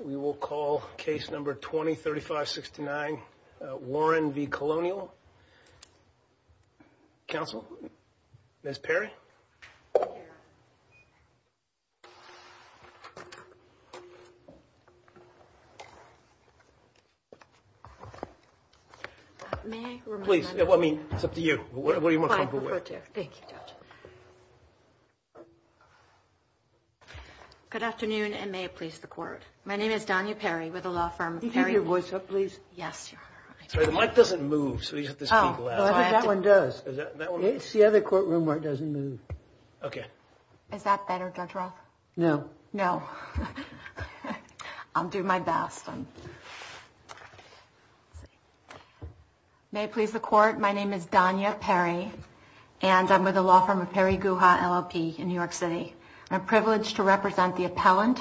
We will call case number 20-35-69 Warren v. Colonial. Counsel? Ms. Perry? Please, I mean, it's up to you. What do you want to come up with? Thank you, Judge. Good afternoon, and may it please the court. My name is Donya Perry with a law firm. Can you keep your voice up, please? Yes. The mic doesn't move, so you have to speak loud. That one does. It's the other courtroom where it doesn't move. Okay. Is that better, Judge Roth? No. No. I'll do my best. Awesome. May it please the court. My name is Donya Perry, and I'm with a law firm of Perry Guha LLP in New York City. I'm privileged to represent the appellant,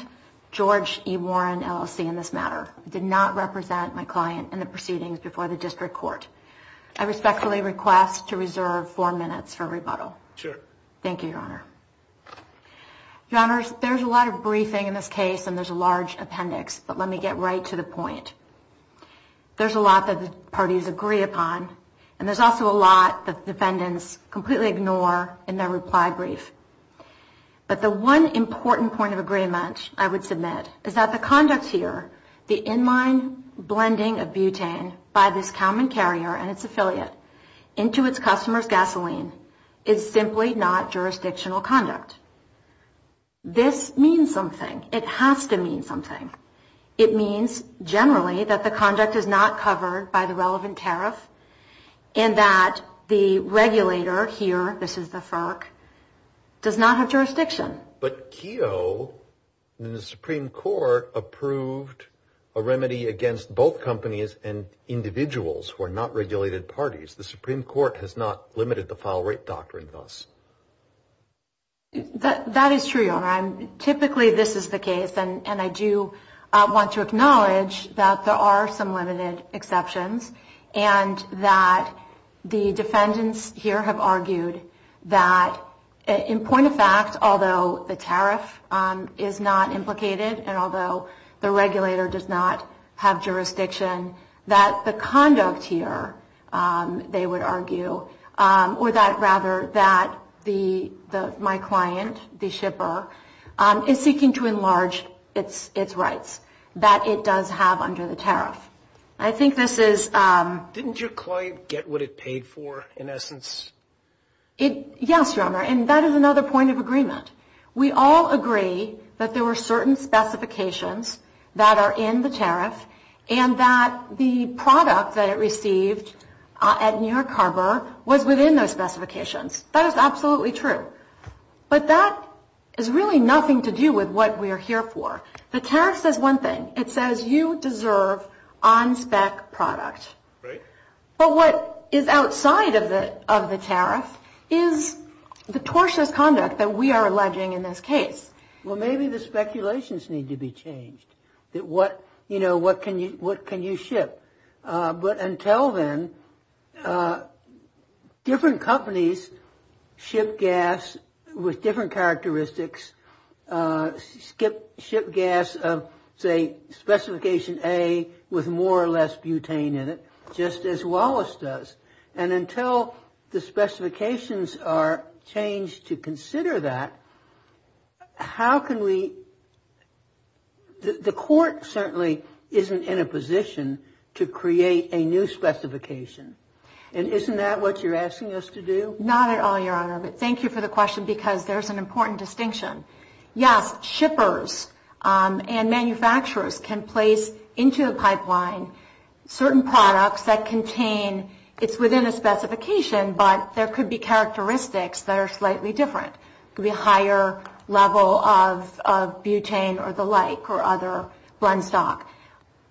George E. Warren LLC, in this matter. I did not represent my client in the proceedings before the district court. I respectfully request to reserve four minutes for rebuttal. Sure. Thank you, Your Honor. Your Honors, there's a lot of briefing in this case, and there's a large appendix, but let me get right to the point. There's a lot that the parties agree upon, and there's also a lot that the defendants completely ignore in their reply brief. But the one important point of agreement I would submit is that the conduct here, the in-line blending of butane by this Kalman carrier and its affiliate into its customer's gasoline is simply not jurisdictional conduct. This means something. It has to mean something. It means generally that the conduct is not covered by the relevant tariff and that the regulator here, this is the FERC, does not have jurisdiction. But Keogh in the Supreme Court approved a remedy against both companies and individuals who are not regulated parties. The Supreme Court has not limited the file rate doctrine thus. That is true, Your Honor. Typically this is the case, and I do want to acknowledge that there are some limited exceptions and that the defendants here have argued that in point of fact, although the tariff is not implicated and although the regulator does not have jurisdiction, that the conduct here, they would argue, or that rather that my client, the shipper, is seeking to enlarge its rights, that it does have under the tariff. I think this is... Didn't your client get what it paid for in essence? Yes, Your Honor, and that is another point of agreement. We all agree that there were certain specifications that are in the tariff and that the product that it received at New York Harbor was within those specifications. That is absolutely true. But that is really nothing to do with what we are here for. The tariff says one thing. It says you deserve on spec product. Right. But what is outside of the tariff is the tortious conduct that we are alleging in this case. Well, maybe the speculations need to be changed. You know, what can you ship? But until then, different companies ship gas with different characteristics, ship gas of, say, specification A with more or less butane in it, just as Wallace does. And until the specifications are changed to consider that, how can we... The court certainly isn't in a position to create a new specification. And isn't that what you're asking us to do? Not at all, Your Honor. But thank you for the question because there's an important distinction. Yes, shippers and manufacturers can place into a pipeline certain products that contain... It's within a specification, but there could be characteristics that are slightly different. It could be a higher level of butane or the like or other blend stock.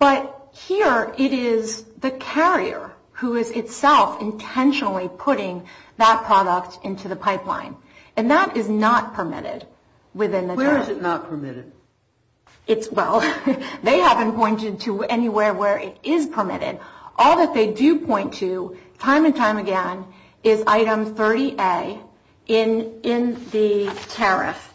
But here it is the carrier who is itself intentionally putting that product into the pipeline. And that is not permitted within the tariff. Where is it not permitted? Well, they haven't pointed to anywhere where it is permitted. All that they do point to time and time again is item 30A in the tariff,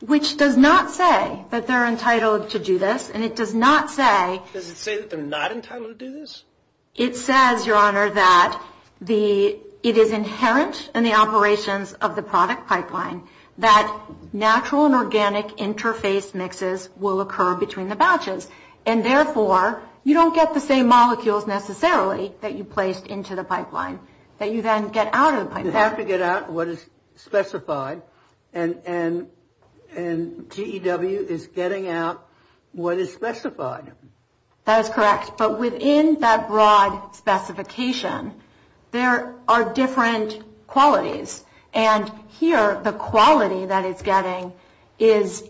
which does not say that they're entitled to do this, and it does not say... Does it say that they're not entitled to do this? It says, Your Honor, that it is inherent in the operations of the product pipeline that natural and organic interface mixes will occur between the batches. And therefore, you don't get the same molecules necessarily that you placed into the pipeline that you then get out of the pipeline. You have to get out what is specified, and TEW is getting out what is specified. That is correct. But within that broad specification, there are different qualities. And here, the quality that it's getting is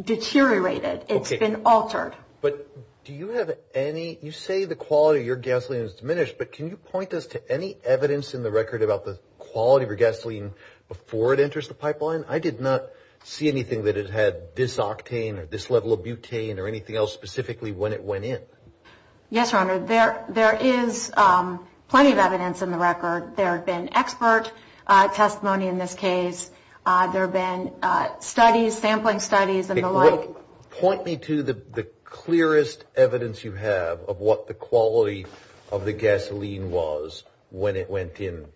deteriorated. It's been altered. But do you have any... You say the quality of your gasoline is diminished, but can you point us to any evidence in the record about the quality of your gasoline before it enters the pipeline? I did not see anything that it had this octane or this level of butane or anything else specifically when it went in. Yes, Your Honor. There is plenty of evidence in the record. There have been expert testimony in this case. There have been studies, sampling studies and the like. Point me to the clearest evidence you have of what the quality of the gasoline was when it went in.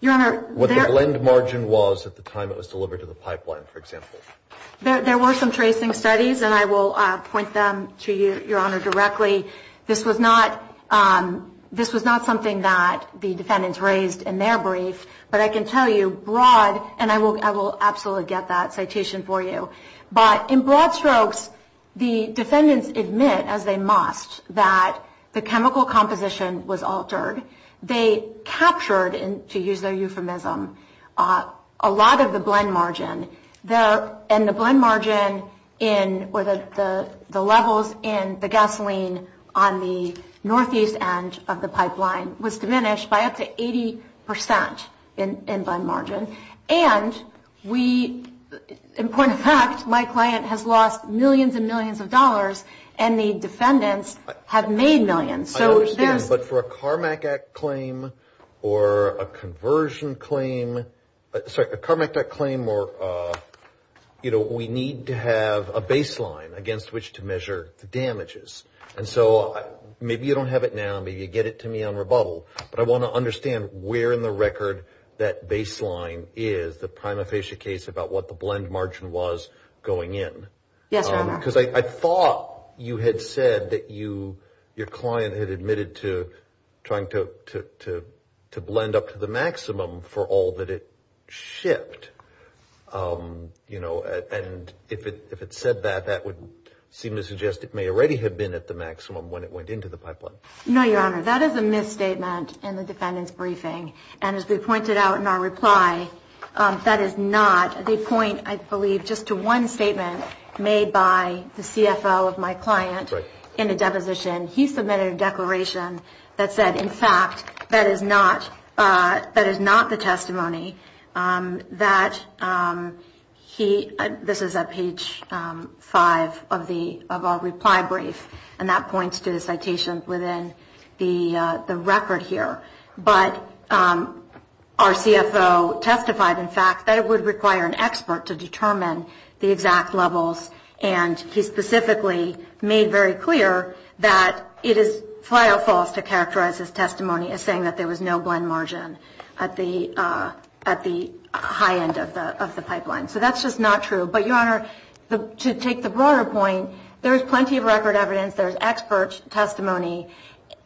Your Honor... What the blend margin was at the time it was delivered to the pipeline, for example. There were some tracing studies, and I will point them to you, Your Honor, directly. This was not something that the defendants raised in their brief, but I can tell you broad... And I will absolutely get that citation for you. But in broad strokes, the defendants admit, as they must, that the chemical composition was altered. They captured, to use their euphemism, a lot of the blend margin. And the blend margin or the levels in the gasoline on the northeast end of the pipeline was diminished by up to 80% in blend margin. And we, in point of fact, my client has lost millions and millions of dollars, and the defendants have made millions. I understand, but for a CARMAC Act claim or a conversion claim, sorry, a CARMAC Act claim or, you know, we need to have a baseline against which to measure the damages. And so maybe you don't have it now, maybe you get it to me on rebuttal, but I want to understand where in the record that baseline is, the prima facie case, about what the blend margin was going in. Yes, Your Honor. Because I thought you had said that your client had admitted to trying to blend up to the maximum for all that it shipped. You know, and if it said that, that would seem to suggest it may already have been at the maximum when it went into the pipeline. No, Your Honor, that is a misstatement in the defendant's briefing. And as we pointed out in our reply, that is not the point, I believe, just to one statement made by the CFO of my client in a deposition. He submitted a declaration that said, in fact, that is not the testimony that he, this is at page five of our reply brief, and that points to the citation within the record here. But our CFO testified, in fact, that it would require an expert to determine the exact levels, and he specifically made very clear that it is flat out false to characterize his testimony as saying that there was no blend margin at the high end of the pipeline. So that's just not true. But, Your Honor, to take the broader point, there is plenty of record evidence, there is expert testimony,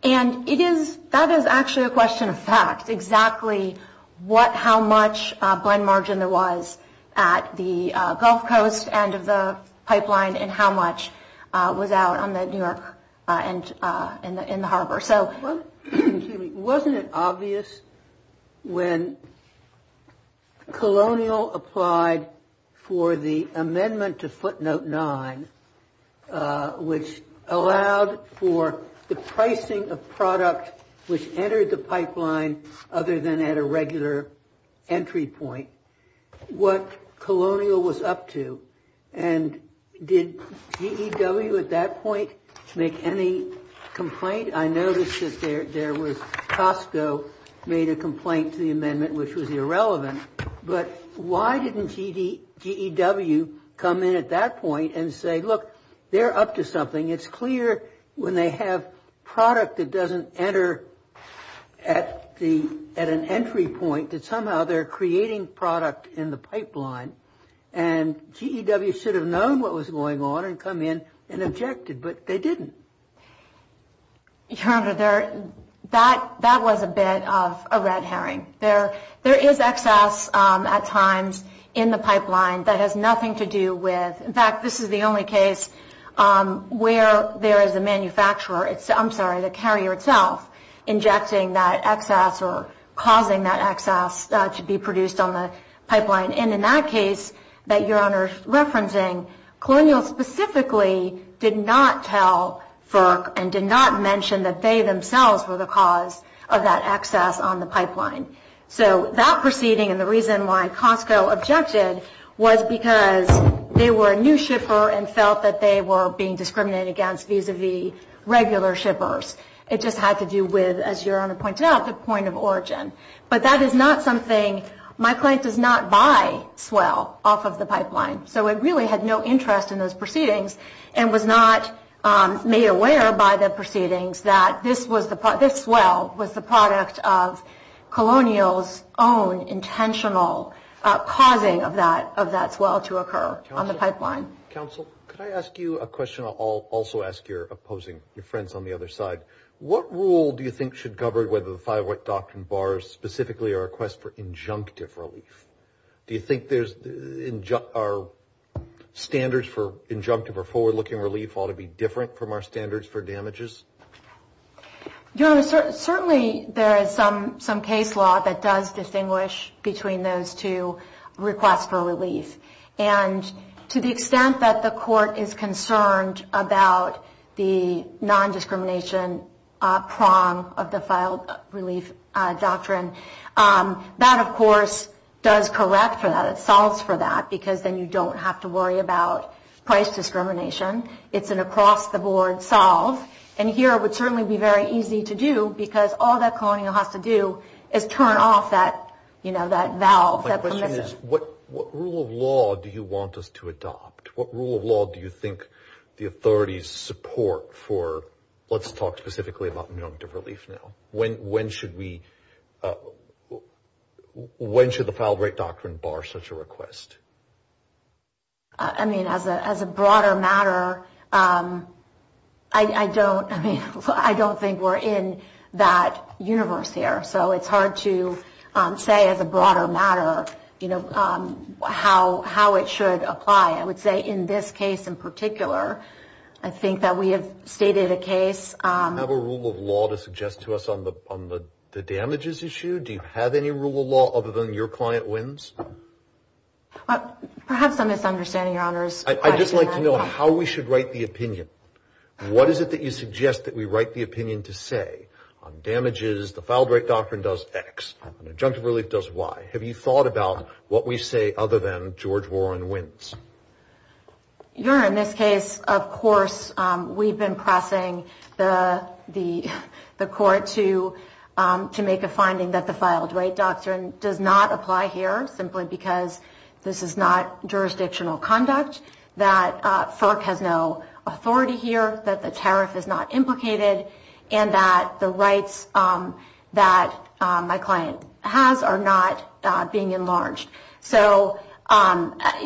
and that is actually a question of fact, exactly how much blend margin there was at the Gulf Coast end of the pipeline and how much was out on the New York end in the harbor. Wasn't it obvious when Colonial applied for the amendment to footnote nine, which allowed for the pricing of product which entered the pipeline other than at a regular entry point, what Colonial was up to, and did GEW at that point make any complaint? I noticed that there was, Costco made a complaint to the amendment which was irrelevant, but why didn't GEW come in at that point and say, look, they're up to something. It's clear when they have product that doesn't enter at an entry point that somehow they're creating product in the pipeline, and GEW should have known what was going on and come in and objected, but they didn't. Your Honor, that was a bit of a red herring. There is excess at times in the pipeline that has nothing to do with, in fact, this is the only case where there is a manufacturer, I'm sorry, the carrier itself, injecting that excess or causing that excess to be produced on the pipeline, and in that case that Your Honor is referencing, Colonial specifically did not tell FERC and did not mention that they themselves were the cause of that excess on the pipeline. So that proceeding and the reason why Costco objected was because they were a new shipper and felt that they were being discriminated against vis-a-vis regular shippers. It just had to do with, as Your Honor pointed out, the point of origin. But that is not something, my client does not buy swell off of the pipeline, so it really had no interest in those proceedings and was not made aware by the proceedings that this swell was the product of Colonial's own intentional causing of that swell to occur on the pipeline. Counsel, could I ask you a question? I'll also ask your opposing, your friends on the other side. What rule do you think should cover whether the five white doctrine bars, specifically our request for injunctive relief? Do you think our standards for injunctive or forward-looking relief ought to be different from our standards for damages? Your Honor, certainly there is some case law that does distinguish between those two requests for relief. And to the extent that the court is concerned about the nondiscrimination prong of the filed relief doctrine, that, of course, does correct for that. It solves for that because then you don't have to worry about price discrimination. It's an across-the-board solve. And here it would certainly be very easy to do because all that Colonial has to do is turn off that valve. My question is, what rule of law do you want us to adopt? What rule of law do you think the authorities support for, let's talk specifically about injunctive relief now? When should we, when should the filed right doctrine bar such a request? I mean, as a broader matter, I don't, I mean, I don't think we're in that universe here. So it's hard to say as a broader matter, you know, how it should apply. I would say in this case in particular, I think that we have stated a case. Do you have a rule of law to suggest to us on the damages issue? Do you have any rule of law other than your client wins? Perhaps I'm misunderstanding, Your Honors. I'd just like to know how we should write the opinion. What is it that you suggest that we write the opinion to say? On damages, the filed right doctrine does X, and injunctive relief does Y. Have you thought about what we say other than George Warren wins? Your Honor, in this case, of course, we've been pressing the court to make a finding that the filed right doctrine does not apply here, simply because this is not jurisdictional conduct, that FERC has no authority here, that the tariff is not implicated, and that the rights that my client has are not being enlarged. So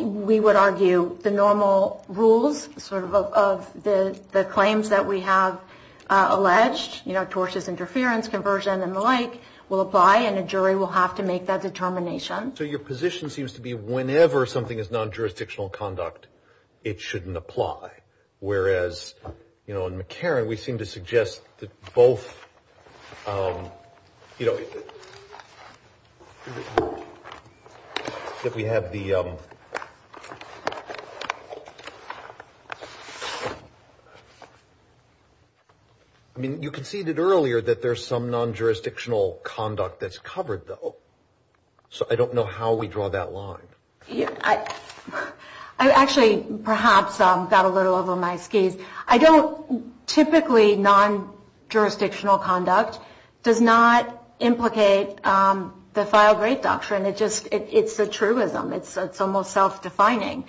we would argue the normal rules sort of of the claims that we have alleged, you know, tortious interference, conversion, and the like, will apply, and a jury will have to make that determination. So your position seems to be whenever something is non-jurisdictional conduct, it shouldn't apply. Whereas, you know, in McCarran, we seem to suggest that both, you know, that we have the – I mean, you conceded earlier that there's some non-jurisdictional conduct that's covered, though. So I don't know how we draw that line. I actually, perhaps, got a little over my skis. I don't – typically, non-jurisdictional conduct does not implicate the filed right doctrine. It just – it's a truism. It's almost self-defining.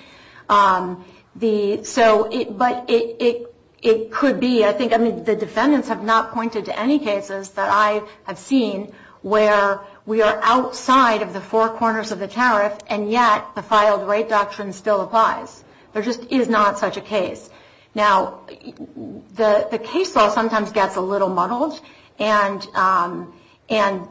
The – so – but it could be. I think – I mean, the defendants have not pointed to any cases that I have seen where we are outside of the four corners of the tariff, and yet the filed right doctrine still applies. There just is not such a case. Now, the case law sometimes gets a little muddled, and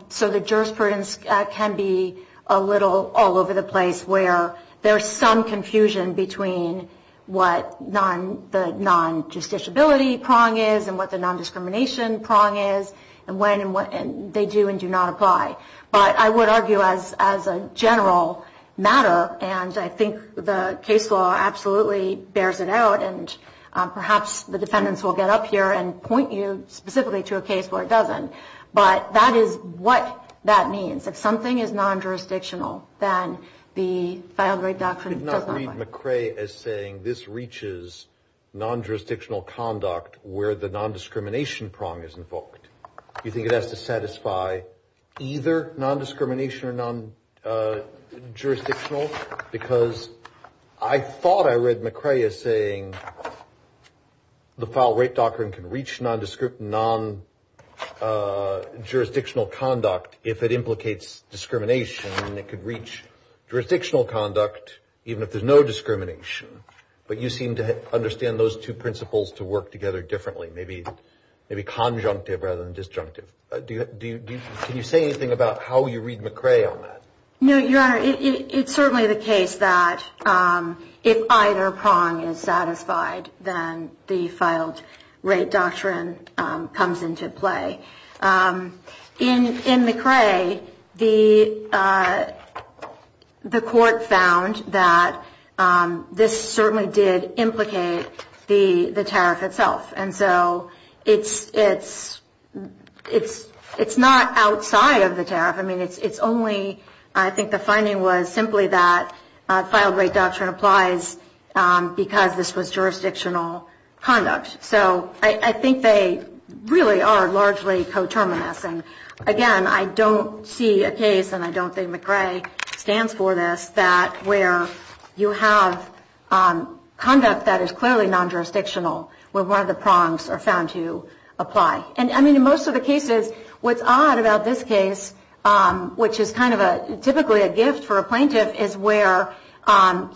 so the jurisprudence can be a little all over the place, where there's some confusion between what the non-justiciability prong is and what the non-discrimination prong is, and when and what – and they do and do not apply. But I would argue as a general matter, and I think the case law absolutely bears it out, and perhaps the defendants will get up here and point you specifically to a case where it doesn't, but that is what that means. If something is non-jurisdictional, then the filed right doctrine does not apply. I did not read McCrae as saying this reaches non-jurisdictional conduct where the non-discrimination prong is invoked. Do you think it has to satisfy either non-discrimination or non-jurisdictional? Because I thought I read McCrae as saying the filed right doctrine can reach non-jurisdictional conduct if it implicates discrimination, and it could reach jurisdictional conduct even if there's no discrimination. But you seem to understand those two principles to work together differently, maybe conjunctive rather than disjunctive. Can you say anything about how you read McCrae on that? No, Your Honor. It's certainly the case that if either prong is satisfied, then the filed right doctrine comes into play. In McCrae, the court found that this certainly did implicate the tariff itself, and so it's not outside of the tariff. I mean, it's only, I think the finding was simply that filed right doctrine applies because this was jurisdictional conduct. So I think they really are largely coterminous. And again, I don't see a case, and I don't think McCrae stands for this, that where you have conduct that is clearly non-jurisdictional where one of the prongs are found to apply. And I mean, in most of the cases, what's odd about this case, which is kind of typically a gift for a plaintiff, is where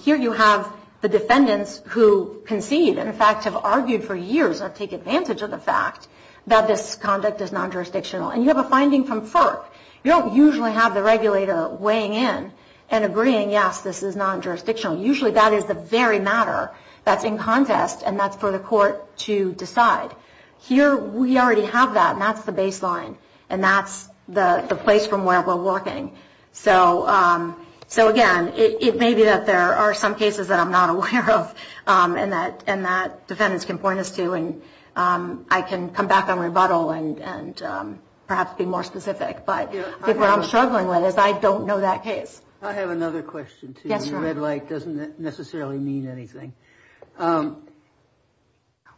here you have the defendants who concede and, in fact, have argued for years or take advantage of the fact that this conduct is non-jurisdictional. And you have a finding from FERC. You don't usually have the regulator weighing in and agreeing, yes, this is non-jurisdictional. Usually that is the very matter that's in contest, and that's for the court to decide. Here we already have that, and that's the baseline, and that's the place from where we're walking. So again, it may be that there are some cases that I'm not aware of and that defendants can point us to, and I can come back on rebuttal and perhaps be more specific. But I think what I'm struggling with is I don't know that case. I have another question, too. The red light doesn't necessarily mean anything.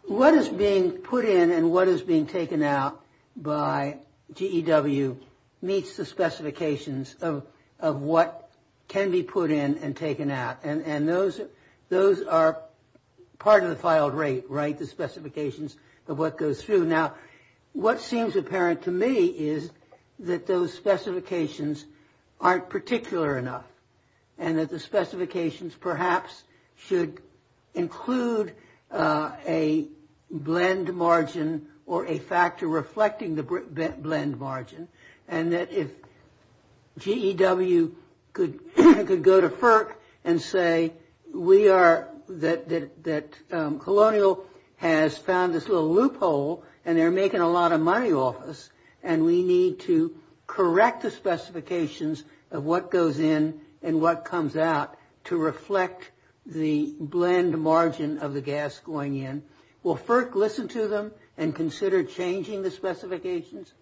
What is being put in and what is being taken out by GEW meets the specifications of what can be put in and taken out. And those are part of the filed rate, right, the specifications of what goes through. Now, what seems apparent to me is that those specifications aren't particular enough and that the specifications perhaps should include a blend margin or a factor reflecting the blend margin, and that if GEW could go to FERC and say we are, that Colonial has found this little loophole and they're making a lot of money off us and we need to correct the specifications of what goes in and what comes out to reflect the blend margin of the gas going in. Will FERC listen to them and consider changing the specifications?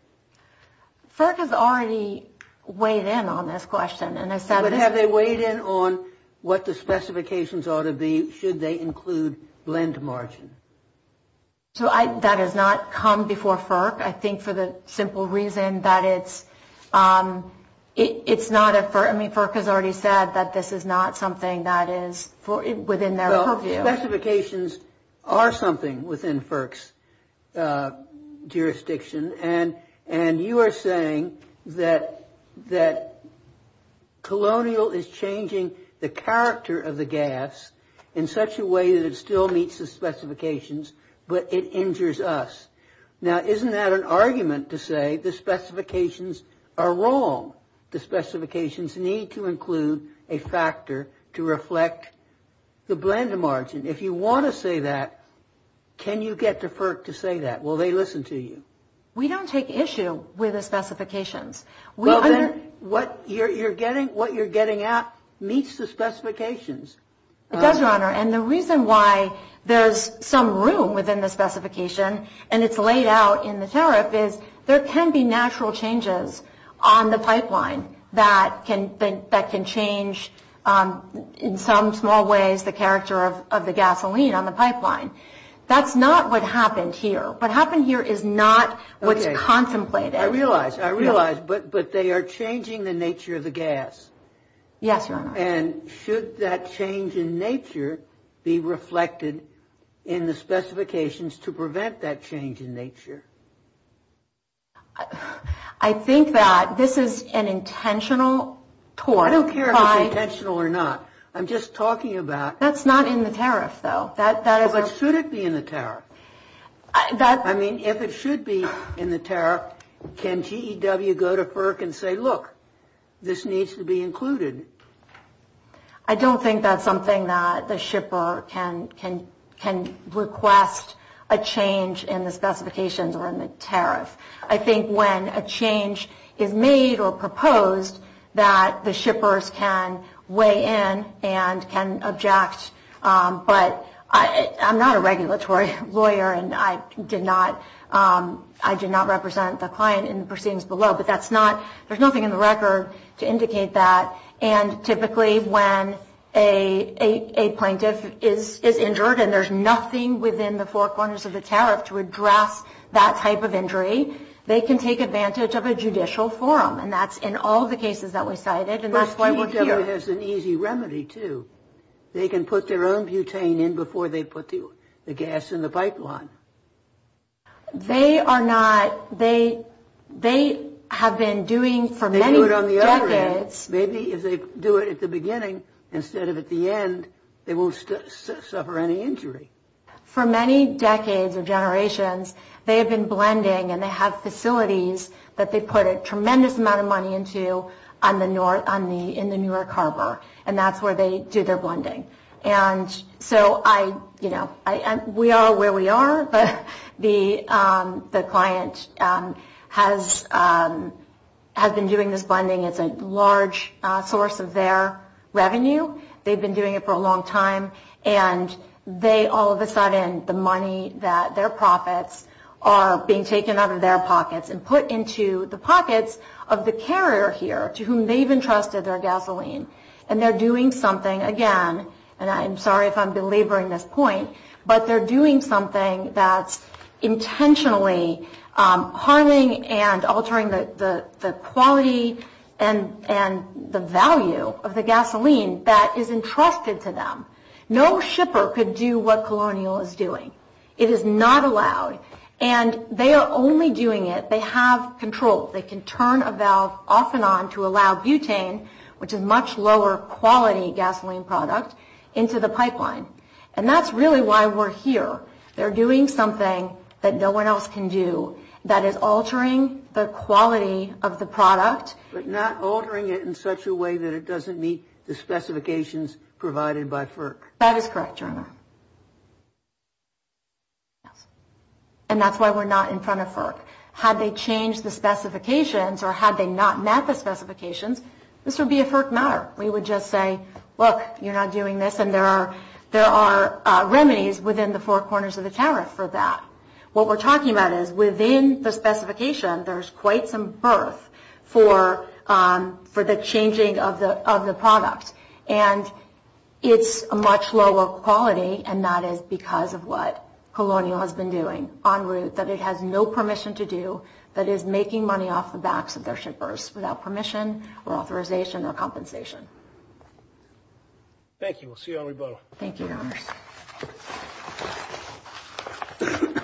FERC has already weighed in on this question. Have they weighed in on what the specifications ought to be should they include blend margin? So that has not come before FERC. I think for the simple reason that it's not a FERC. I mean, FERC has already said that this is not something that is within their purview. Specifications are something within FERC's jurisdiction. And you are saying that Colonial is changing the character of the gas in such a way that it still meets the specifications, but it injures us. Now, isn't that an argument to say the specifications are wrong? The specifications need to include a factor to reflect the blend margin. If you want to say that, can you get to FERC to say that? Will they listen to you? We don't take issue with the specifications. What you're getting out meets the specifications. It does, Your Honor, and the reason why there's some room within the specification and it's laid out in the tariff is there can be natural changes on the pipeline that can change, in some small ways, the character of the gasoline on the pipeline. That's not what happened here. What happened here is not what's contemplated. I realize, I realize, but they are changing the nature of the gas. Yes, Your Honor. And should that change in nature be reflected in the specifications to prevent that change in nature? I think that this is an intentional tort. I don't care if it's intentional or not. I'm just talking about. That's not in the tariff, though. But should it be in the tariff? I mean, if it should be in the tariff, can GEW go to FERC and say, look, this needs to be included? I don't think that's something that the shipper can request a change in the specifications or in the tariff. I think when a change is made or proposed, that the shippers can weigh in and can object. But I'm not a regulatory lawyer, and I did not represent the client in the proceedings below. But that's not, there's nothing in the record to indicate that. And typically when a plaintiff is injured and there's nothing within the four corners of the tariff to address that type of injury, they can take advantage of a judicial forum. And that's in all the cases that we cited. And that's why we're here. It has an easy remedy, too. They can put their own butane in before they put the gas in the pipeline. They are not, they have been doing for many decades. Maybe if they do it at the beginning instead of at the end, they won't suffer any injury. For many decades or generations, they have been blending, and they have facilities that they put a tremendous amount of money into in the Newark Harbor. And that's where they do their blending. And so I, you know, we are where we are, but the client has been doing this blending. It's a large source of their revenue. They've been doing it for a long time. And they all of a sudden, the money that their profits are being taken out of their pockets and put into the pockets of the carrier here to whom they've entrusted their gasoline. And they're doing something again, and I'm sorry if I'm belaboring this point, but they're doing something that's intentionally harming and altering the quality and the value of the gasoline that is entrusted to them. No shipper could do what Colonial is doing. It is not allowed. And they are only doing it, they have control. They can turn a valve off and on to allow butane, which is a much lower quality gasoline product, into the pipeline. And that's really why we're here. They're doing something that no one else can do that is altering the quality of the product. But not altering it in such a way that it doesn't meet the specifications provided by FERC. That is correct, Your Honor. And that's why we're not in front of FERC. Had they changed the specifications or had they not met the specifications, this would be a FERC matter. We would just say, look, you're not doing this, and there are remedies within the four corners of the tariff for that. What we're talking about is within the specification, there's quite some berth for the changing of the product. And it's a much lower quality, and that is because of what Colonial has been doing en route, that it has no permission to do that is making money off the backs of their shippers without permission or authorization or compensation. Thank you. We'll see you on rebuttal. Thank you, Your Honors. Thank you.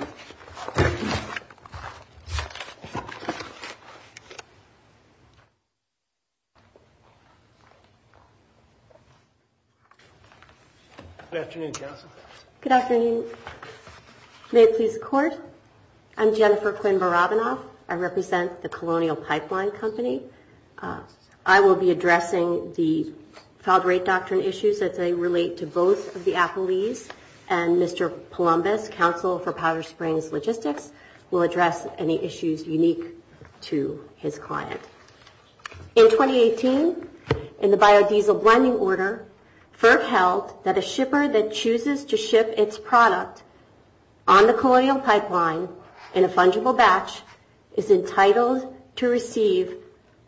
Good afternoon, counsel. Good afternoon. May it please the Court, I'm Jennifer Quinn Barabanov. I represent the Colonial Pipeline Company. I will be addressing the filed rate doctrine issues that relate to both of the Appleys and Mr. Palombas, Counsel for Powder Springs Logistics, will address any issues unique to his client. In 2018, in the biodiesel blending order, FERC held that a shipper that chooses to ship its product on the Colonial Pipeline in a fungible batch is entitled to receive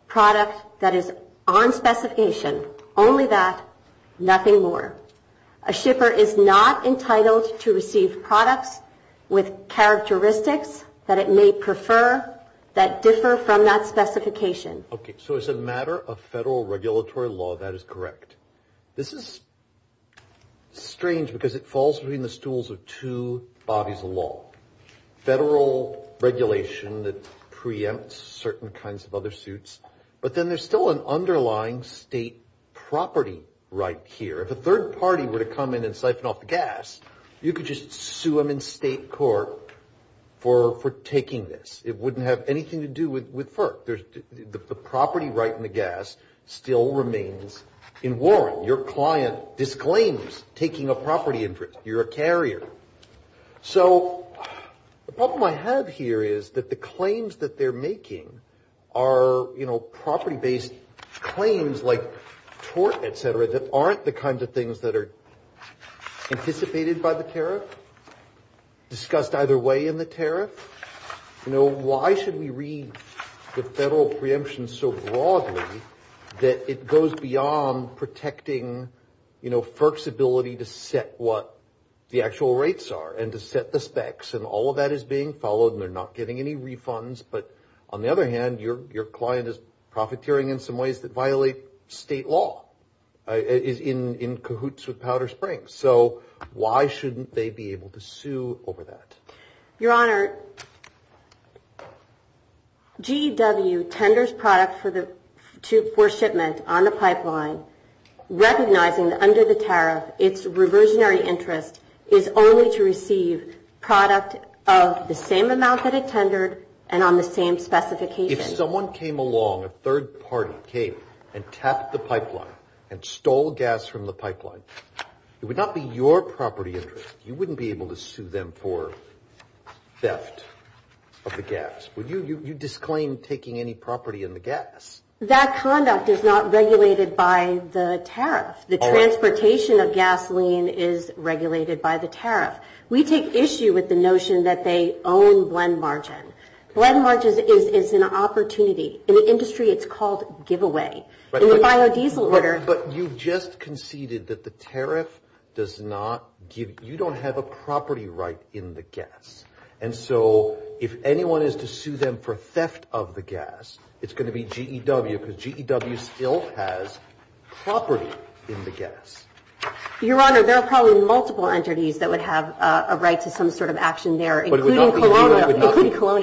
product that is on specification, only that, nothing more. A shipper is not entitled to receive products with characteristics that it may prefer that differ from that specification. Okay. So as a matter of federal regulatory law, that is correct. This is strange because it falls between the stools of two bodies of law, federal regulation that preempts certain kinds of other suits, but then there's still an underlying state property right here. If a third party were to come in and siphon off the gas, you could just sue them in state court for taking this. It wouldn't have anything to do with FERC. The property right in the gas still remains in warrant. Your client disclaims taking a property interest. You're a carrier. So the problem I have here is that the claims that they're making are, you know, property-based claims like tort, et cetera, that aren't the kinds of things that are anticipated by the tariff, discussed either way in the tariff. You know, why should we read the federal preemption so broadly that it goes beyond protecting, you know, FERC's ability to set what the actual rates are and to set the specs, and all of that is being followed and they're not getting any refunds. But on the other hand, your client is profiteering in some ways that violate state law, is in cahoots with Powder Springs. So why shouldn't they be able to sue over that? Your Honor, GEW tenders product for shipment on the pipeline, recognizing that under the tariff, its reversionary interest is only to receive product of the same amount that it tendered and on the same specification. If someone came along, a third party came and tapped the pipeline and stole gas from the pipeline, it would not be your property interest. You wouldn't be able to sue them for theft of the gas. Would you disclaim taking any property in the gas? That conduct is not regulated by the tariff. The transportation of gasoline is regulated by the tariff. We take issue with the notion that they own blend margin. Blend margin is an opportunity. In the industry, it's called giveaway. But you just conceded that the tariff does not give, you don't have a property right in the gas. And so if anyone is to sue them for theft of the gas, it's going to be GEW because GEW still has property in the gas. Your Honor, there are probably multiple entities that would have a right to some sort of action there, including Colonial.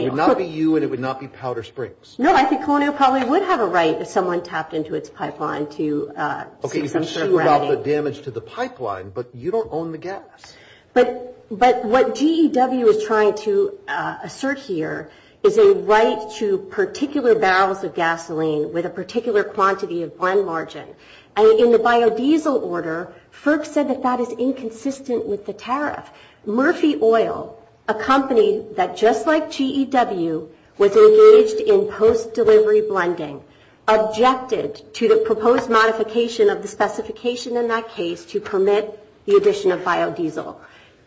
It would not be you and it would not be Powder Springs. No, I think Colonial probably would have a right if someone tapped into its pipeline to see some sort of remedy. Okay, you can sue about the damage to the pipeline, but you don't own the gas. But what GEW is trying to assert here is a right to particular barrels of gasoline with a particular quantity of blend margin. And in the biodiesel order, FERC said that that is inconsistent with the tariff. Murphy Oil, a company that just like GEW, was engaged in post-delivery blending, objected to the proposed modification of the specification in that case to permit the addition of biodiesel.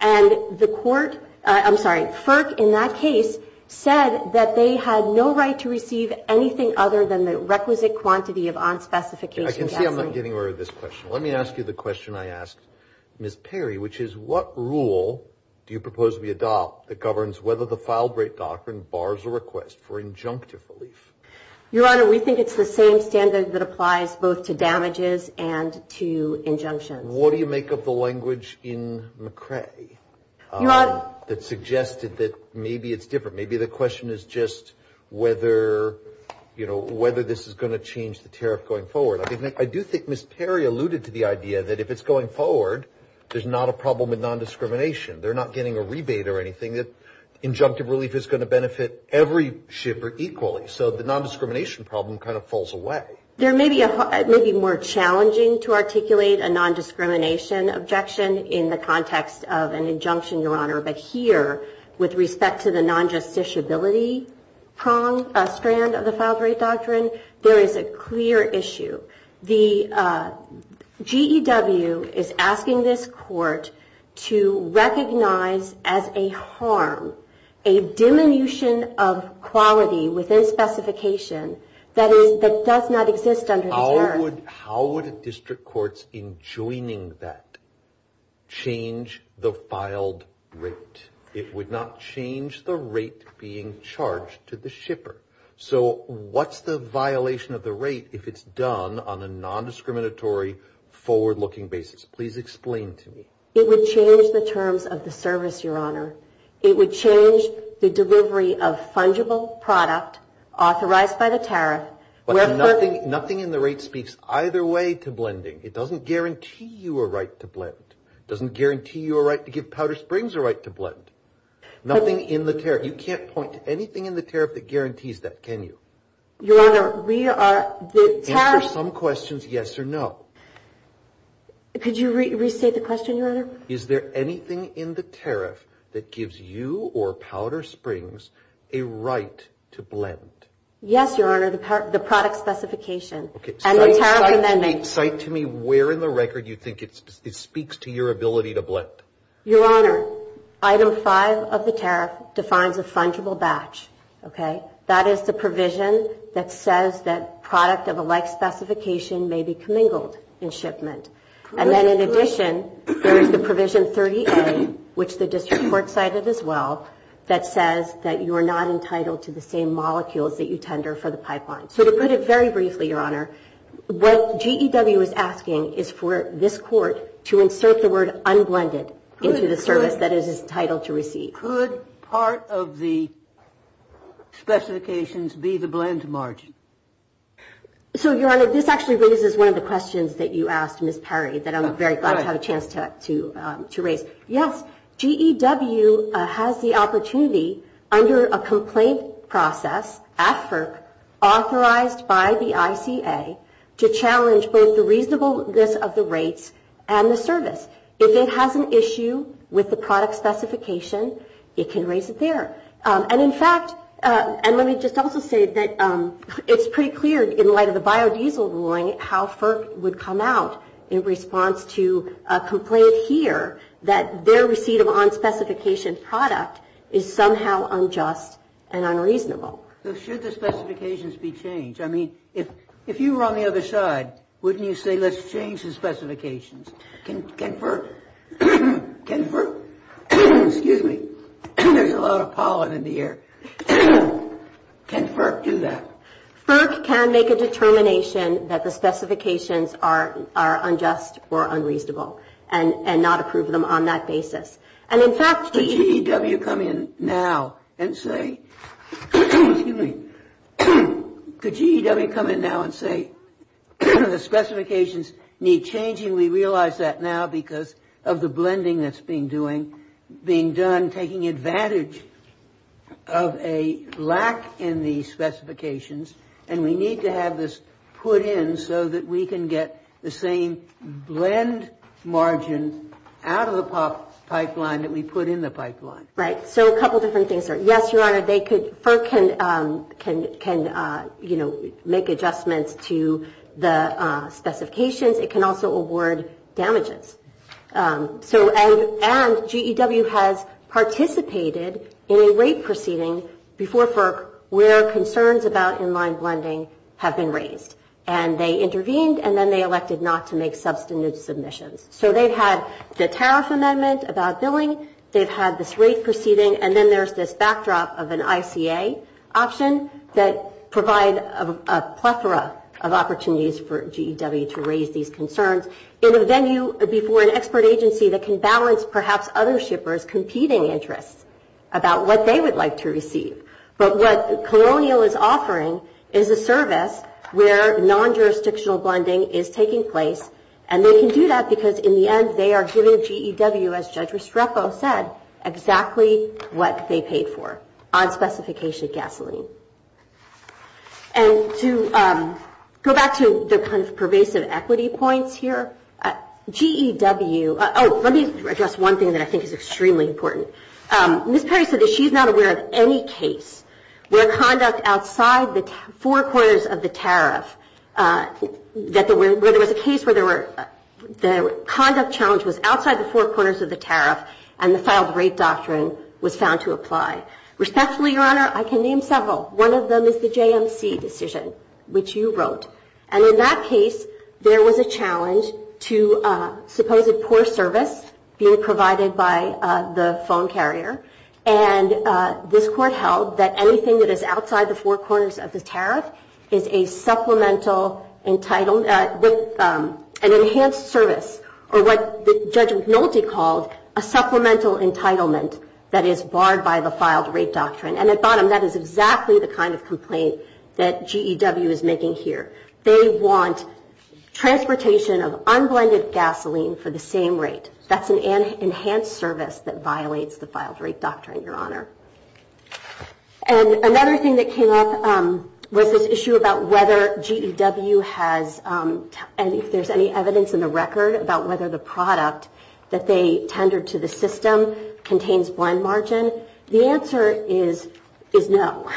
And the court, I'm sorry, FERC in that case said that they had no right to receive anything other than the requisite quantity of unspecified gasoline. Okay, I'm not getting rid of this question. Let me ask you the question I asked Ms. Perry, which is what rule do you propose we adopt that governs whether the filed rate doctrine bars a request for injunctive relief? Your Honor, we think it's the same standard that applies both to damages and to injunctions. What do you make of the language in McCrae that suggested that maybe it's different? Maybe the question is just whether this is going to change the tariff going forward. I do think Ms. Perry alluded to the idea that if it's going forward, there's not a problem with nondiscrimination. They're not getting a rebate or anything. Injunctive relief is going to benefit every shipper equally, so the nondiscrimination problem kind of falls away. There may be more challenging to articulate a nondiscrimination objection in the context of an injunction, Your Honor, but here with respect to the non-justiciability prong strand of the filed rate doctrine, there is a clear issue. The GEW is asking this court to recognize as a harm a diminution of quality within specification that does not exist under the tariff. How would district courts in joining that change the filed rate? It would not change the rate being charged to the shipper. So what's the violation of the rate if it's done on a nondiscriminatory, forward-looking basis? Please explain to me. It would change the terms of the service, Your Honor. It would change the delivery of fungible product authorized by the tariff. Nothing in the rate speaks either way to blending. It doesn't guarantee you a right to blend. It doesn't guarantee you a right to give Powder Springs a right to blend. Nothing in the tariff. You can't point to anything in the tariff that guarantees that, can you? Your Honor, we are the tariff. Answer some questions yes or no. Could you restate the question, Your Honor? Is there anything in the tariff that gives you or Powder Springs a right to blend? Yes, Your Honor, the product specification. Cite to me where in the record you think it speaks to your ability to blend. Your Honor, Item 5 of the tariff defines a fungible batch. That is the provision that says that product of a like specification may be commingled in shipment. And then in addition, there is the provision 30A, which the district court cited as well, that says that you are not entitled to the same molecules that you tender for the pipeline. So to put it very briefly, Your Honor, what GEW is asking is for this court to insert the word unblended into the service that is entitled to receive. Could part of the specifications be the blend margin? So, Your Honor, this actually raises one of the questions that you asked, Ms. Perry, that I'm very glad to have a chance to raise. Yes, GEW has the opportunity under a complaint process at FERC authorized by the ICA to challenge both the reasonableness of the rates and the service. If it has an issue with the product specification, it can raise it there. And in fact, and let me just also say that it's pretty clear in light of the biodiesel ruling how FERC would come out in response to a complaint here that their receipt of unspecification product is somehow unjust and unreasonable. So should the specifications be changed? I mean, if you were on the other side, wouldn't you say let's change the specifications? Can FERC, excuse me, there's a lot of pollen in the air. Can FERC do that? FERC can make a determination that the specifications are unjust or unreasonable and not approve them on that basis. And in fact, GEW come in now and say, excuse me, could GEW come in now and say the specifications need changing? We realize that now because of the blending that's being doing, being done, taking advantage of a lack in the specifications, and we need to have this put in so that we can get the same blend margin out of the pipeline that we put in the pipeline. Right, so a couple different things there. Yes, Your Honor, they could, FERC can, you know, make adjustments to the specifications. It can also award damages. And GEW has participated in a rate proceeding before FERC where concerns about in-line blending have been raised. And they intervened, and then they elected not to make substantive submissions. So they've had the tariff amendment about billing, they've had this rate proceeding, and then there's this backdrop of an ICA option that provide a plethora of opportunities for GEW to raise these concerns in a venue before an expert agency that can balance perhaps other shippers' competing interests about what they would like to receive. But what Colonial is offering is a service where non-jurisdictional blending is taking place, and they can do that because in the end they are giving GEW, as Judge Restrepo said, exactly what they paid for on specification gasoline. And to go back to the kind of pervasive equity points here, GEW, oh, let me address one thing that I think is extremely important. Ms. Perry said that she's not aware of any case where conduct outside the four corners of the tariff, where there was a case where the conduct challenge was outside the four corners of the tariff and the filed rate doctrine was found to apply. Respectfully, Your Honor, I can name several. One of them is the JMC decision, which you wrote, and in that case there was a challenge to supposed poor service being provided by the phone carrier, and this Court held that anything that is outside the four corners of the tariff is a supplemental entitlement, an enhanced service, or what Judge McNulty called a supplemental entitlement that is barred by the filed rate doctrine. And at bottom, that is exactly the kind of complaint that GEW is making here. They want transportation of unblended gasoline for the same rate. That's an enhanced service that violates the filed rate doctrine, Your Honor. And another thing that came up was this issue about whether GEW has, and if there's any evidence in the record about whether the product that they tendered to the system contains blend margin. The answer is no.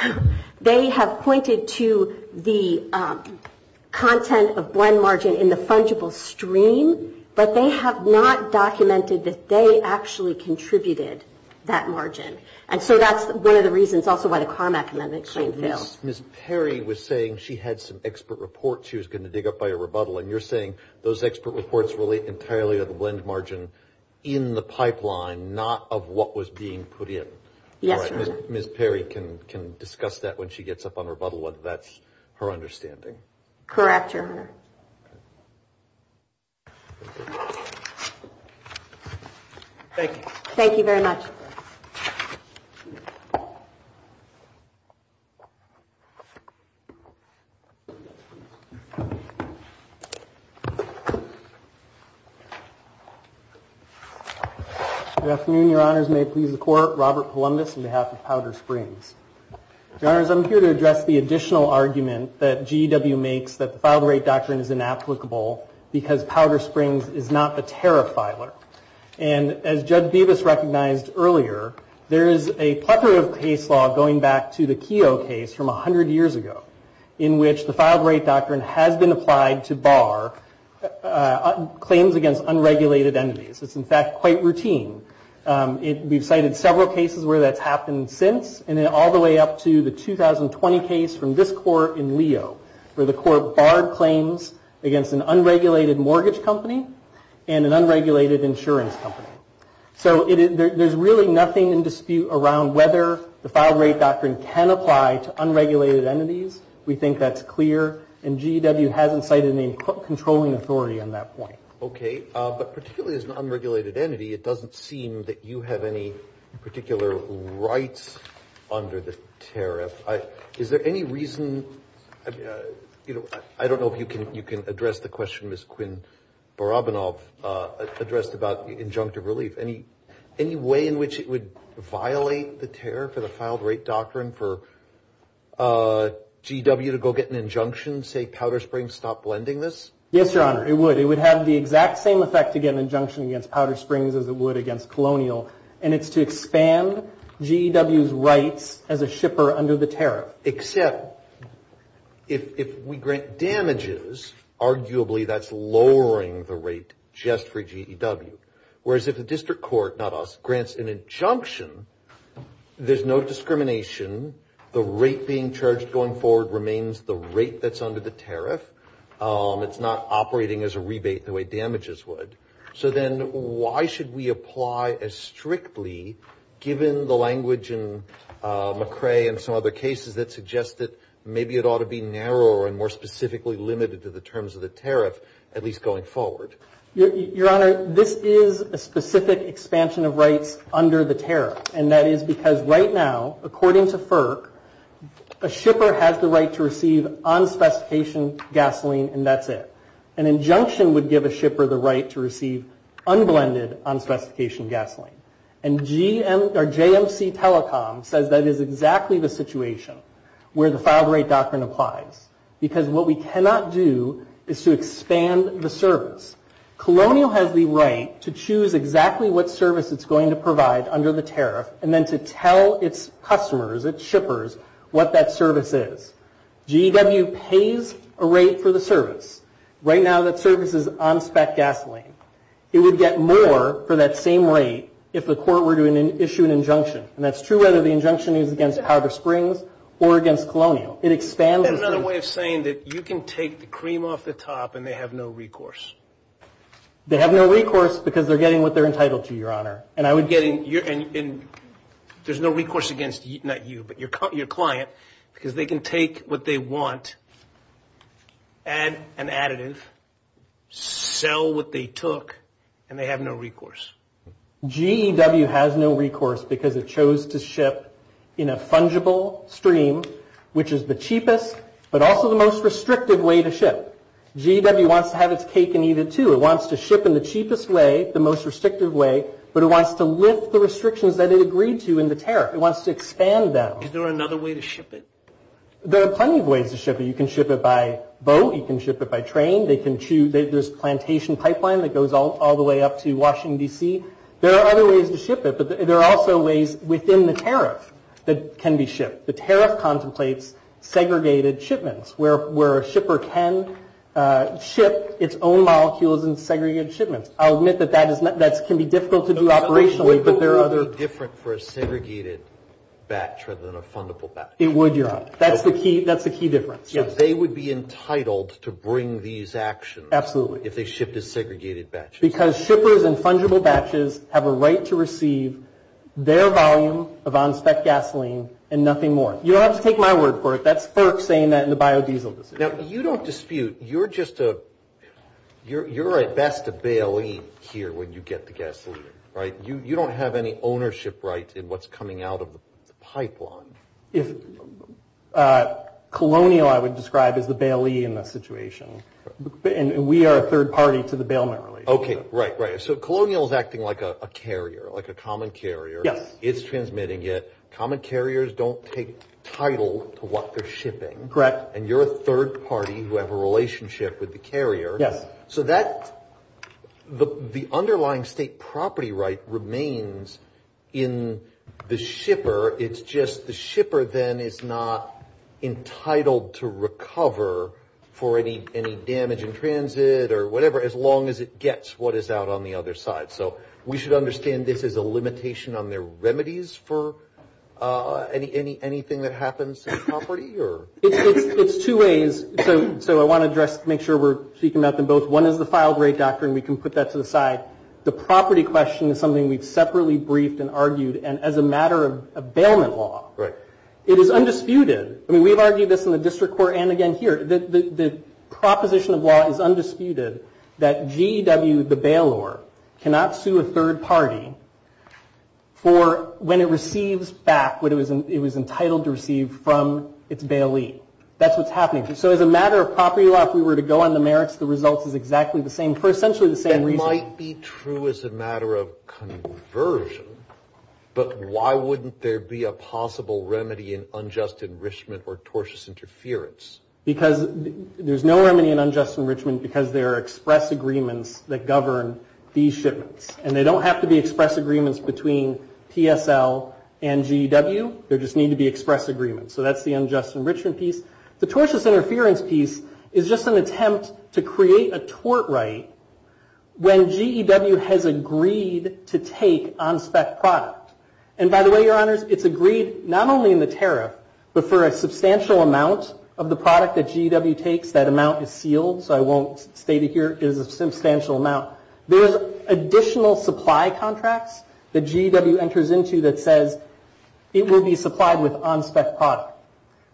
They have pointed to the content of blend margin in the fungible stream, but they have not documented that they actually contributed that margin. And so that's one of the reasons also why the Carmack Amendment claim failed. Ms. Perry was saying she had some expert reports she was going to dig up by a rebuttal, and you're saying those expert reports relate entirely to the blend margin in the pipeline, not of what was being put in. Yes, Your Honor. Ms. Perry can discuss that when she gets up on rebuttal, whether that's her understanding. Correct, Your Honor. Thank you. Thank you very much. Good afternoon, Your Honors. May it please the Court. Robert Columbus on behalf of Powder Springs. Your Honors, I'm here to address the additional argument that GEW makes that the filed rate doctrine is inapplicable because Powder Springs is not the tariff filer. And as Judge Bevis recognized earlier, there is a plethora of case law going back to the Keogh case from 100 years ago, in which the filed rate doctrine has been applied to bar claims against unregulated entities. It's, in fact, quite routine. We've cited several cases where that's happened since, and then all the way up to the 2020 case from this Court in Leo, where the Court barred claims against an unregulated mortgage company and an unregulated insurance company. So there's really nothing in dispute around whether the filed rate doctrine can apply to unregulated entities. We think that's clear, and GEW hasn't cited any controlling authority on that point. Okay. But particularly as an unregulated entity, it doesn't seem that you have any particular rights under the tariff. Is there any reason, you know, I don't know if you can address the question Ms. Quinn Barabanov addressed about injunctive relief. Any way in which it would violate the tariff of the filed rate doctrine for GEW to go get an injunction, say Powder Springs, stop blending this? Yes, Your Honor, it would. It would have the exact same effect to get an injunction against Powder Springs as it would against Colonial, and it's to expand GEW's rights as a shipper under the tariff. Except if we grant damages, arguably that's lowering the rate just for GEW. Whereas if the district court, not us, grants an injunction, there's no discrimination. The rate being charged going forward remains the rate that's under the tariff. It's not operating as a rebate the way damages would. So then why should we apply as strictly, given the language in McCrae and some other cases that suggest that maybe it ought to be narrower and more specifically limited to the terms of the tariff, at least going forward? Your Honor, this is a specific expansion of rights under the tariff. And that is because right now, according to FERC, a shipper has the right to receive unspecified gasoline and that's it. An injunction would give a shipper the right to receive unblended unspecification gasoline. And JMC Telecom says that is exactly the situation where the filed rate doctrine applies. Because what we cannot do is to expand the service. Colonial has the right to choose exactly what service it's going to provide under the tariff and then to tell its customers, its shippers, what that service is. GEW pays a rate for the service. Right now that service is unspec gasoline. It would get more for that same rate if the court were to issue an injunction. And that's true whether the injunction is against Powder Springs or against Colonial. It expands the service. Another way of saying that you can take the cream off the top and they have no recourse. They have no recourse because they're getting what they're entitled to, Your Honor. There's no recourse against you, not you, but your client, because they can take what they want, add an additive, sell what they took, and they have no recourse. GEW has no recourse because it chose to ship in a fungible stream, which is the cheapest but also the most restrictive way to ship. GEW wants to have its cake and eat it too. It wants to ship in the cheapest way, the most restrictive way, but it wants to lift the restrictions that it agreed to in the tariff. It wants to expand them. Is there another way to ship it? There are plenty of ways to ship it. You can ship it by boat. You can ship it by train. There's a plantation pipeline that goes all the way up to Washington, D.C. There are other ways to ship it, but there are also ways within the tariff that can be shipped. The tariff contemplates segregated shipments, where a shipper can ship its own molecules in segregated shipments. I'll admit that that can be difficult to do operationally, but there are other – But wouldn't it be different for a segregated batch rather than a fungible batch? It would, Your Honor. That's the key difference, yes. So they would be entitled to bring these actions – Absolutely. – if they shipped as segregated batches. Because shippers in fungible batches have a right to receive their volume of on-spec gasoline and nothing more. You don't have to take my word for it. That's FERC saying that in the biodiesel decision. Now, you don't dispute. You're just a – you're at best a bailee here when you get the gasoline, right? You don't have any ownership rights in what's coming out of the pipeline. Colonial, I would describe, is the bailee in this situation. And we are a third party to the bailment relationship. Okay, right, right. So Colonial is acting like a carrier, like a common carrier. Yes. It's transmitting it. Common carriers don't take title to what they're shipping. Correct. And you're a third party who have a relationship with the carrier. Yes. So that – the underlying state property right remains in the shipper. It's just the shipper then is not entitled to recover for any damage in transit or whatever as long as it gets what is out on the other side. So we should understand this as a limitation on their remedies for anything that happens in the property or? It's two ways. So I want to address – make sure we're speaking about them both. One is the filed rate doctrine. We can put that to the side. The property question is something we've separately briefed and argued, and as a matter of bailment law. Right. It is undisputed. I mean, we've argued this in the district court and again here. The proposition of law is undisputed that GEW, the bailor, cannot sue a third party for when it receives back what it was entitled to receive from its bailee. That's what's happening. So as a matter of property law, if we were to go on the merits, the results is exactly the same for essentially the same reason. That might be true as a matter of conversion, but why wouldn't there be a possible remedy in unjust enrichment or tortious interference? Because there's no remedy in unjust enrichment because there are express agreements that govern these shipments. And they don't have to be express agreements between PSL and GEW. There just need to be express agreements. So that's the unjust enrichment piece. The tortious interference piece is just an attempt to create a tort right when GEW has agreed to take on spec product. And by the way, your honors, it's agreed not only in the tariff, but for a substantial amount of the product that GEW takes. That amount is sealed, so I won't state it here. It is a substantial amount. There's additional supply contracts that GEW enters into that says it will be supplied with on spec product.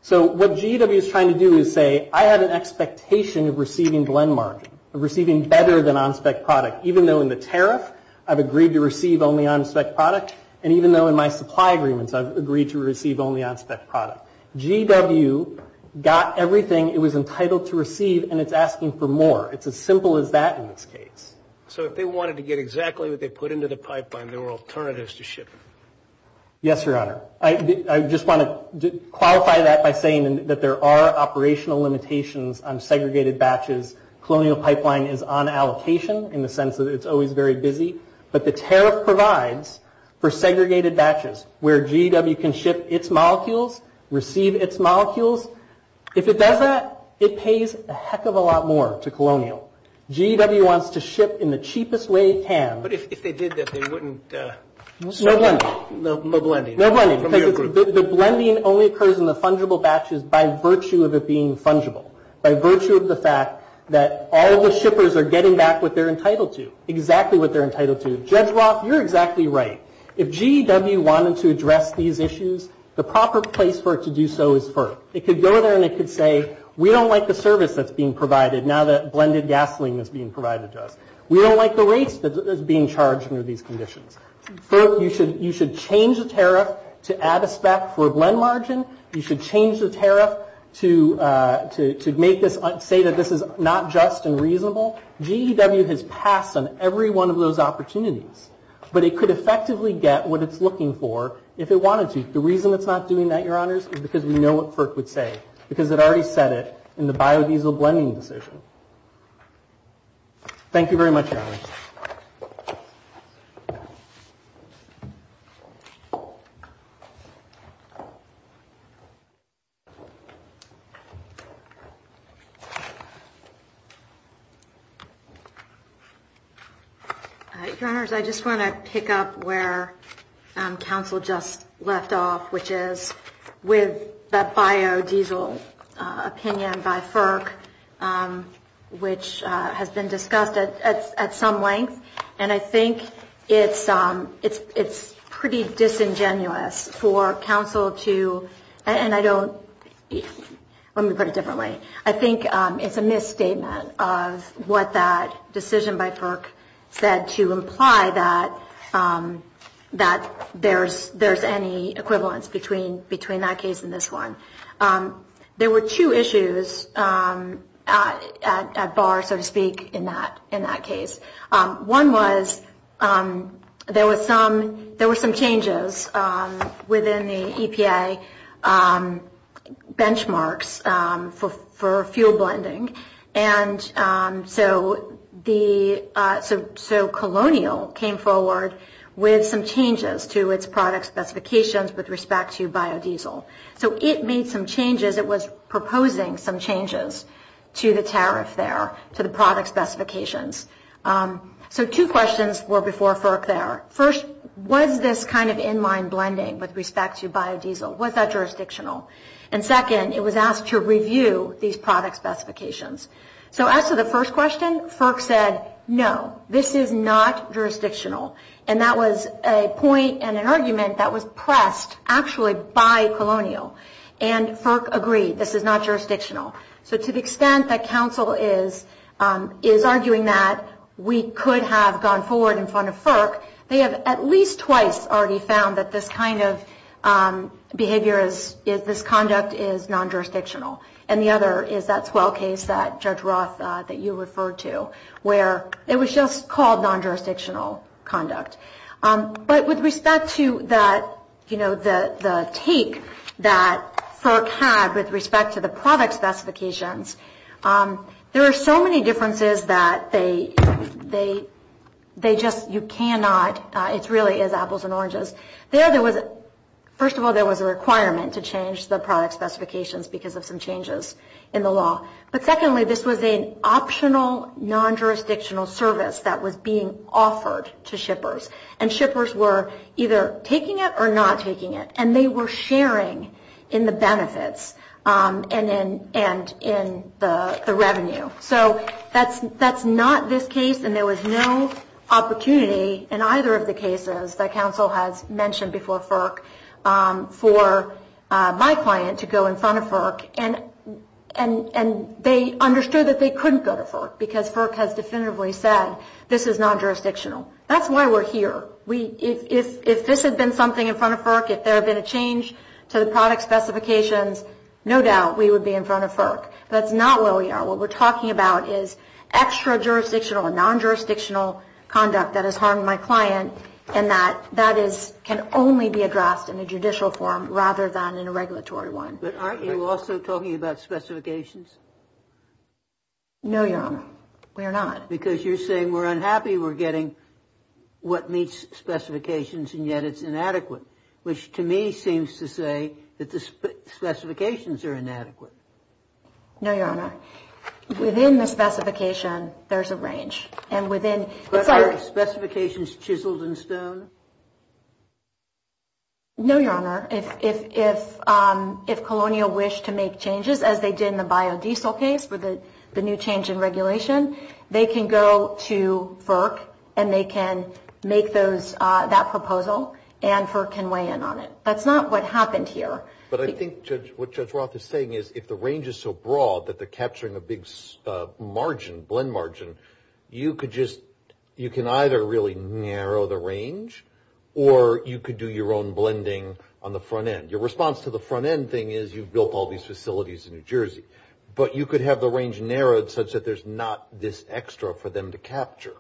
So what GEW is trying to do is say, I have an expectation of receiving blend margin, of receiving better than on spec product, even though in the tariff I've agreed to receive only on spec product, and even though in my supply agreements I've agreed to receive only on spec product. GEW got everything it was entitled to receive, and it's asking for more. It's as simple as that in this case. So if they wanted to get exactly what they put into the pipeline, there were alternatives to shipping? Yes, your honor. I just want to qualify that by saying that there are operational limitations on segregated batches. Colonial pipeline is on allocation in the sense that it's always very busy, but the tariff provides for segregated batches where GEW can ship its molecules, receive its molecules. If it does that, it pays a heck of a lot more to Colonial. GEW wants to ship in the cheapest way it can. But if they did that, they wouldn't? No blending. No blending. No blending, because the blending only occurs in the fungible batches by virtue of it being fungible, by virtue of the fact that all the shippers are getting back what they're entitled to, exactly what they're entitled to. Judge Roth, you're exactly right. If GEW wanted to address these issues, the proper place for it to do so is FERC. It could go there and it could say, we don't like the service that's being provided now that blended gasoline is being provided to us. We don't like the rates that's being charged under these conditions. FERC, you should change the tariff to add a spec for a blend margin. You should change the tariff to make this, say that this is not just and reasonable. GEW has passed on every one of those opportunities. But it could effectively get what it's looking for if it wanted to. The reason it's not doing that, Your Honors, is because we know what FERC would say, because it already said it in the biodiesel blending decision. Thank you very much, Your Honors. Your Honors, I just want to pick up where counsel just left off, which is with the biodiesel opinion by FERC, which has been discussed at some length. And I think it's pretty disingenuous for counsel to, and I don't, let me put it differently. I think it's a misstatement of what that decision by FERC said to imply that there's any equivalence between the two. Between that case and this one. There were two issues at bar, so to speak, in that case. One was there were some changes within the EPA benchmarks for fuel blending. And so the, so Colonial came forward with some changes to its product specifications with respect to biodiesel. So it made some changes, it was proposing some changes to the tariff there, to the product specifications. So two questions were before FERC there. First, was this kind of in-line blending with respect to biodiesel? So as to the first question, FERC said, no, this is not jurisdictional. And that was a point and an argument that was pressed actually by Colonial. And FERC agreed, this is not jurisdictional. So to the extent that counsel is arguing that we could have gone forward in front of FERC, they have at least twice already found that this kind of behavior is, this conduct is non-jurisdictional. And the other is that Swell case that Judge Roth, that you referred to, where it was just called non-jurisdictional conduct. But with respect to that, you know, the take that FERC had with respect to the product specifications, there are so many differences that they just, you cannot, it really is apples and oranges. There, there was, first of all, there was a requirement to change the product specifications because of some changes in the law. But secondly, this was an optional non-jurisdictional service that was being offered to shippers. And shippers were either taking it or not taking it. And they were sharing in the benefits and in the revenue. So that's not this case. And there was no opportunity in either of the cases that counsel has mentioned before FERC for my client to go in front of FERC. And they understood that they couldn't go to FERC because FERC has definitively said this is non-jurisdictional. That's why we're here. If this had been something in front of FERC, if there had been a change to the product specifications, no doubt we would be in front of FERC. That's not where we are. What we're talking about is extra-jurisdictional and non-jurisdictional conduct that has harmed my client and that can only be addressed in a judicial form rather than in a regulatory one. But aren't you also talking about specifications? No, Your Honor. We are not. Because you're saying we're unhappy we're getting what meets specifications and yet it's inadequate, which to me seems to say that the specifications are inadequate. No, Your Honor. Within the specification, there's a range. Specifications chiseled in stone? No, Your Honor. If Colonial wished to make changes, as they did in the biodiesel case for the new change in regulation, they can go to FERC and they can make that proposal and FERC can weigh in on it. That's not what happened here. But I think what Judge Roth is saying is if the range is so broad that they're capturing a big margin, blend margin, you can either really narrow the range or you could do your own blending on the front end. Your response to the front end thing is you've built all these facilities in New Jersey, but you could have the range narrowed such that there's not this extra for them to capture.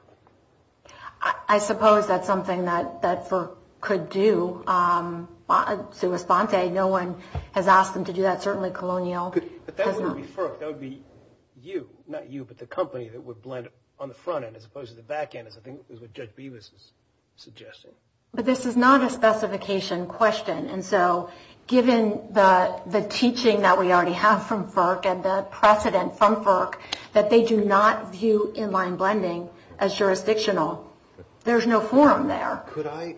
I suppose that's something that FERC could do. No one has asked them to do that. Certainly Colonial has not. But that would be FERC. That would be you. Not you, but the company that would blend on the front end as opposed to the back end is what Judge Bevis is suggesting. But this is not a specification question. And so given the teaching that we already have from FERC and the precedent from FERC, that they do not view inline blending as jurisdictional. There's no forum there. Could I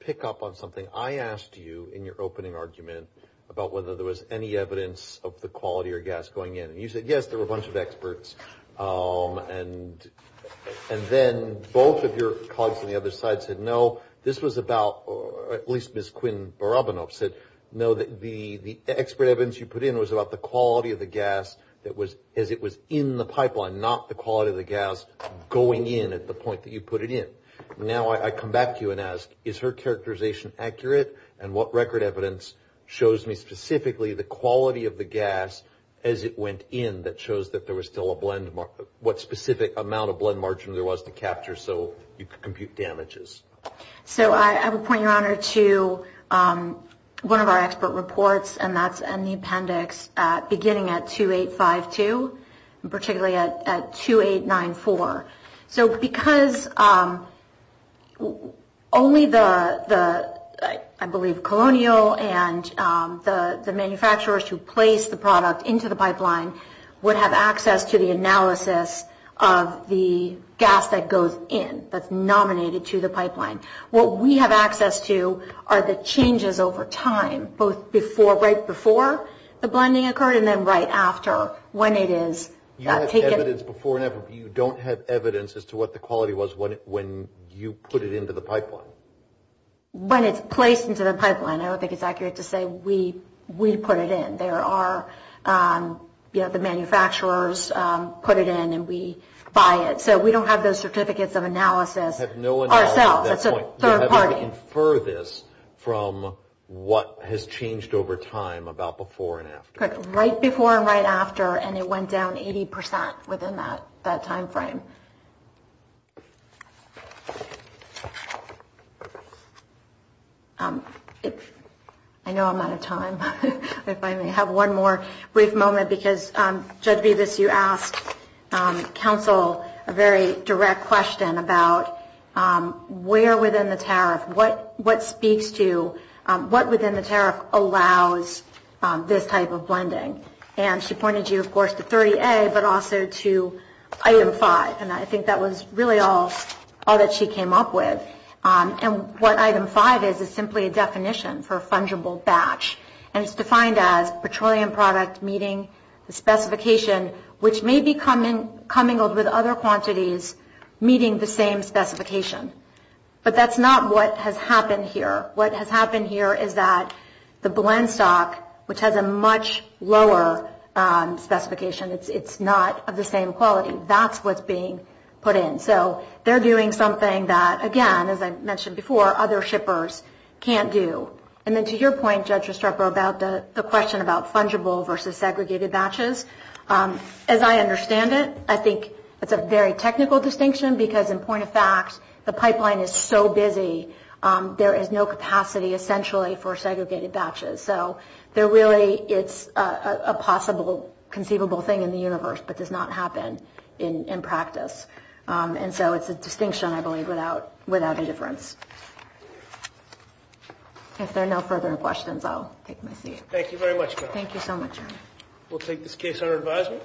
pick up on something? I asked you in your opening argument about whether there was any evidence of the quality or gas going in. You said yes, there were a bunch of experts. And then both of your colleagues on the other side said no. This was about, at least Ms. Quinn Barabanov said no, the expert evidence you put in was about the quality of the gas as it was in the pipeline, not the quality of the gas going in at the point that you put it in. Now I come back to you and ask, is her characterization accurate? And what record evidence shows me specifically the quality of the gas as it went in that shows that there was still a blend margin, what specific amount of blend margin there was to capture so you could compute damages? So I will point your honor to one of our expert reports, and that's in the appendix beginning at 2852, particularly at 2894. I believe Colonial and the manufacturers who placed the product into the pipeline would have access to the analysis of the gas that goes in, that's nominated to the pipeline. What we have access to are the changes over time, both right before the blending occurred and then right after when it is taken. You have evidence before and you don't have evidence as to what the quality was when you put it into the pipeline? When it's placed into the pipeline, I don't think it's accurate to say we put it in. There are, you know, the manufacturers put it in and we buy it. So we don't have those certificates of analysis ourselves, it's a third party. You have to infer this from what has changed over time about before and after. Right before and right after, and it went down 80% within that time frame. I know I'm out of time. If I may have one more brief moment, because Judge Bevis, you asked counsel a very direct question about where within the tariff, what speaks to, what within the tariff allows this type of blending. And she pointed you, of course, to 30A, but also to item 5, and I think that was really all that she came up with. And what item 5 is, is simply a definition for a fungible batch. And it's defined as petroleum product meeting the specification, which may be commingled with other quantities meeting the same specification. But that's not what has happened here. What has happened here is that the blend stock, which has a much lower specification, it's not of the same quality. And that's what's being put in. So they're doing something that, again, as I mentioned before, other shippers can't do. And then to your point, Judge Restrepo, about the question about fungible versus segregated batches. As I understand it, I think it's a very technical distinction, because in point of fact, the pipeline is so busy, there is no capacity essentially for segregated batches. So there really, it's a possible conceivable thing in the universe, but does not happen in practice. And so it's a distinction, I believe, without a difference. If there are no further questions, I'll take my seat. Thank you so much. Thank you. Thank you. Thank you. Thank you. Thank you. Thank you.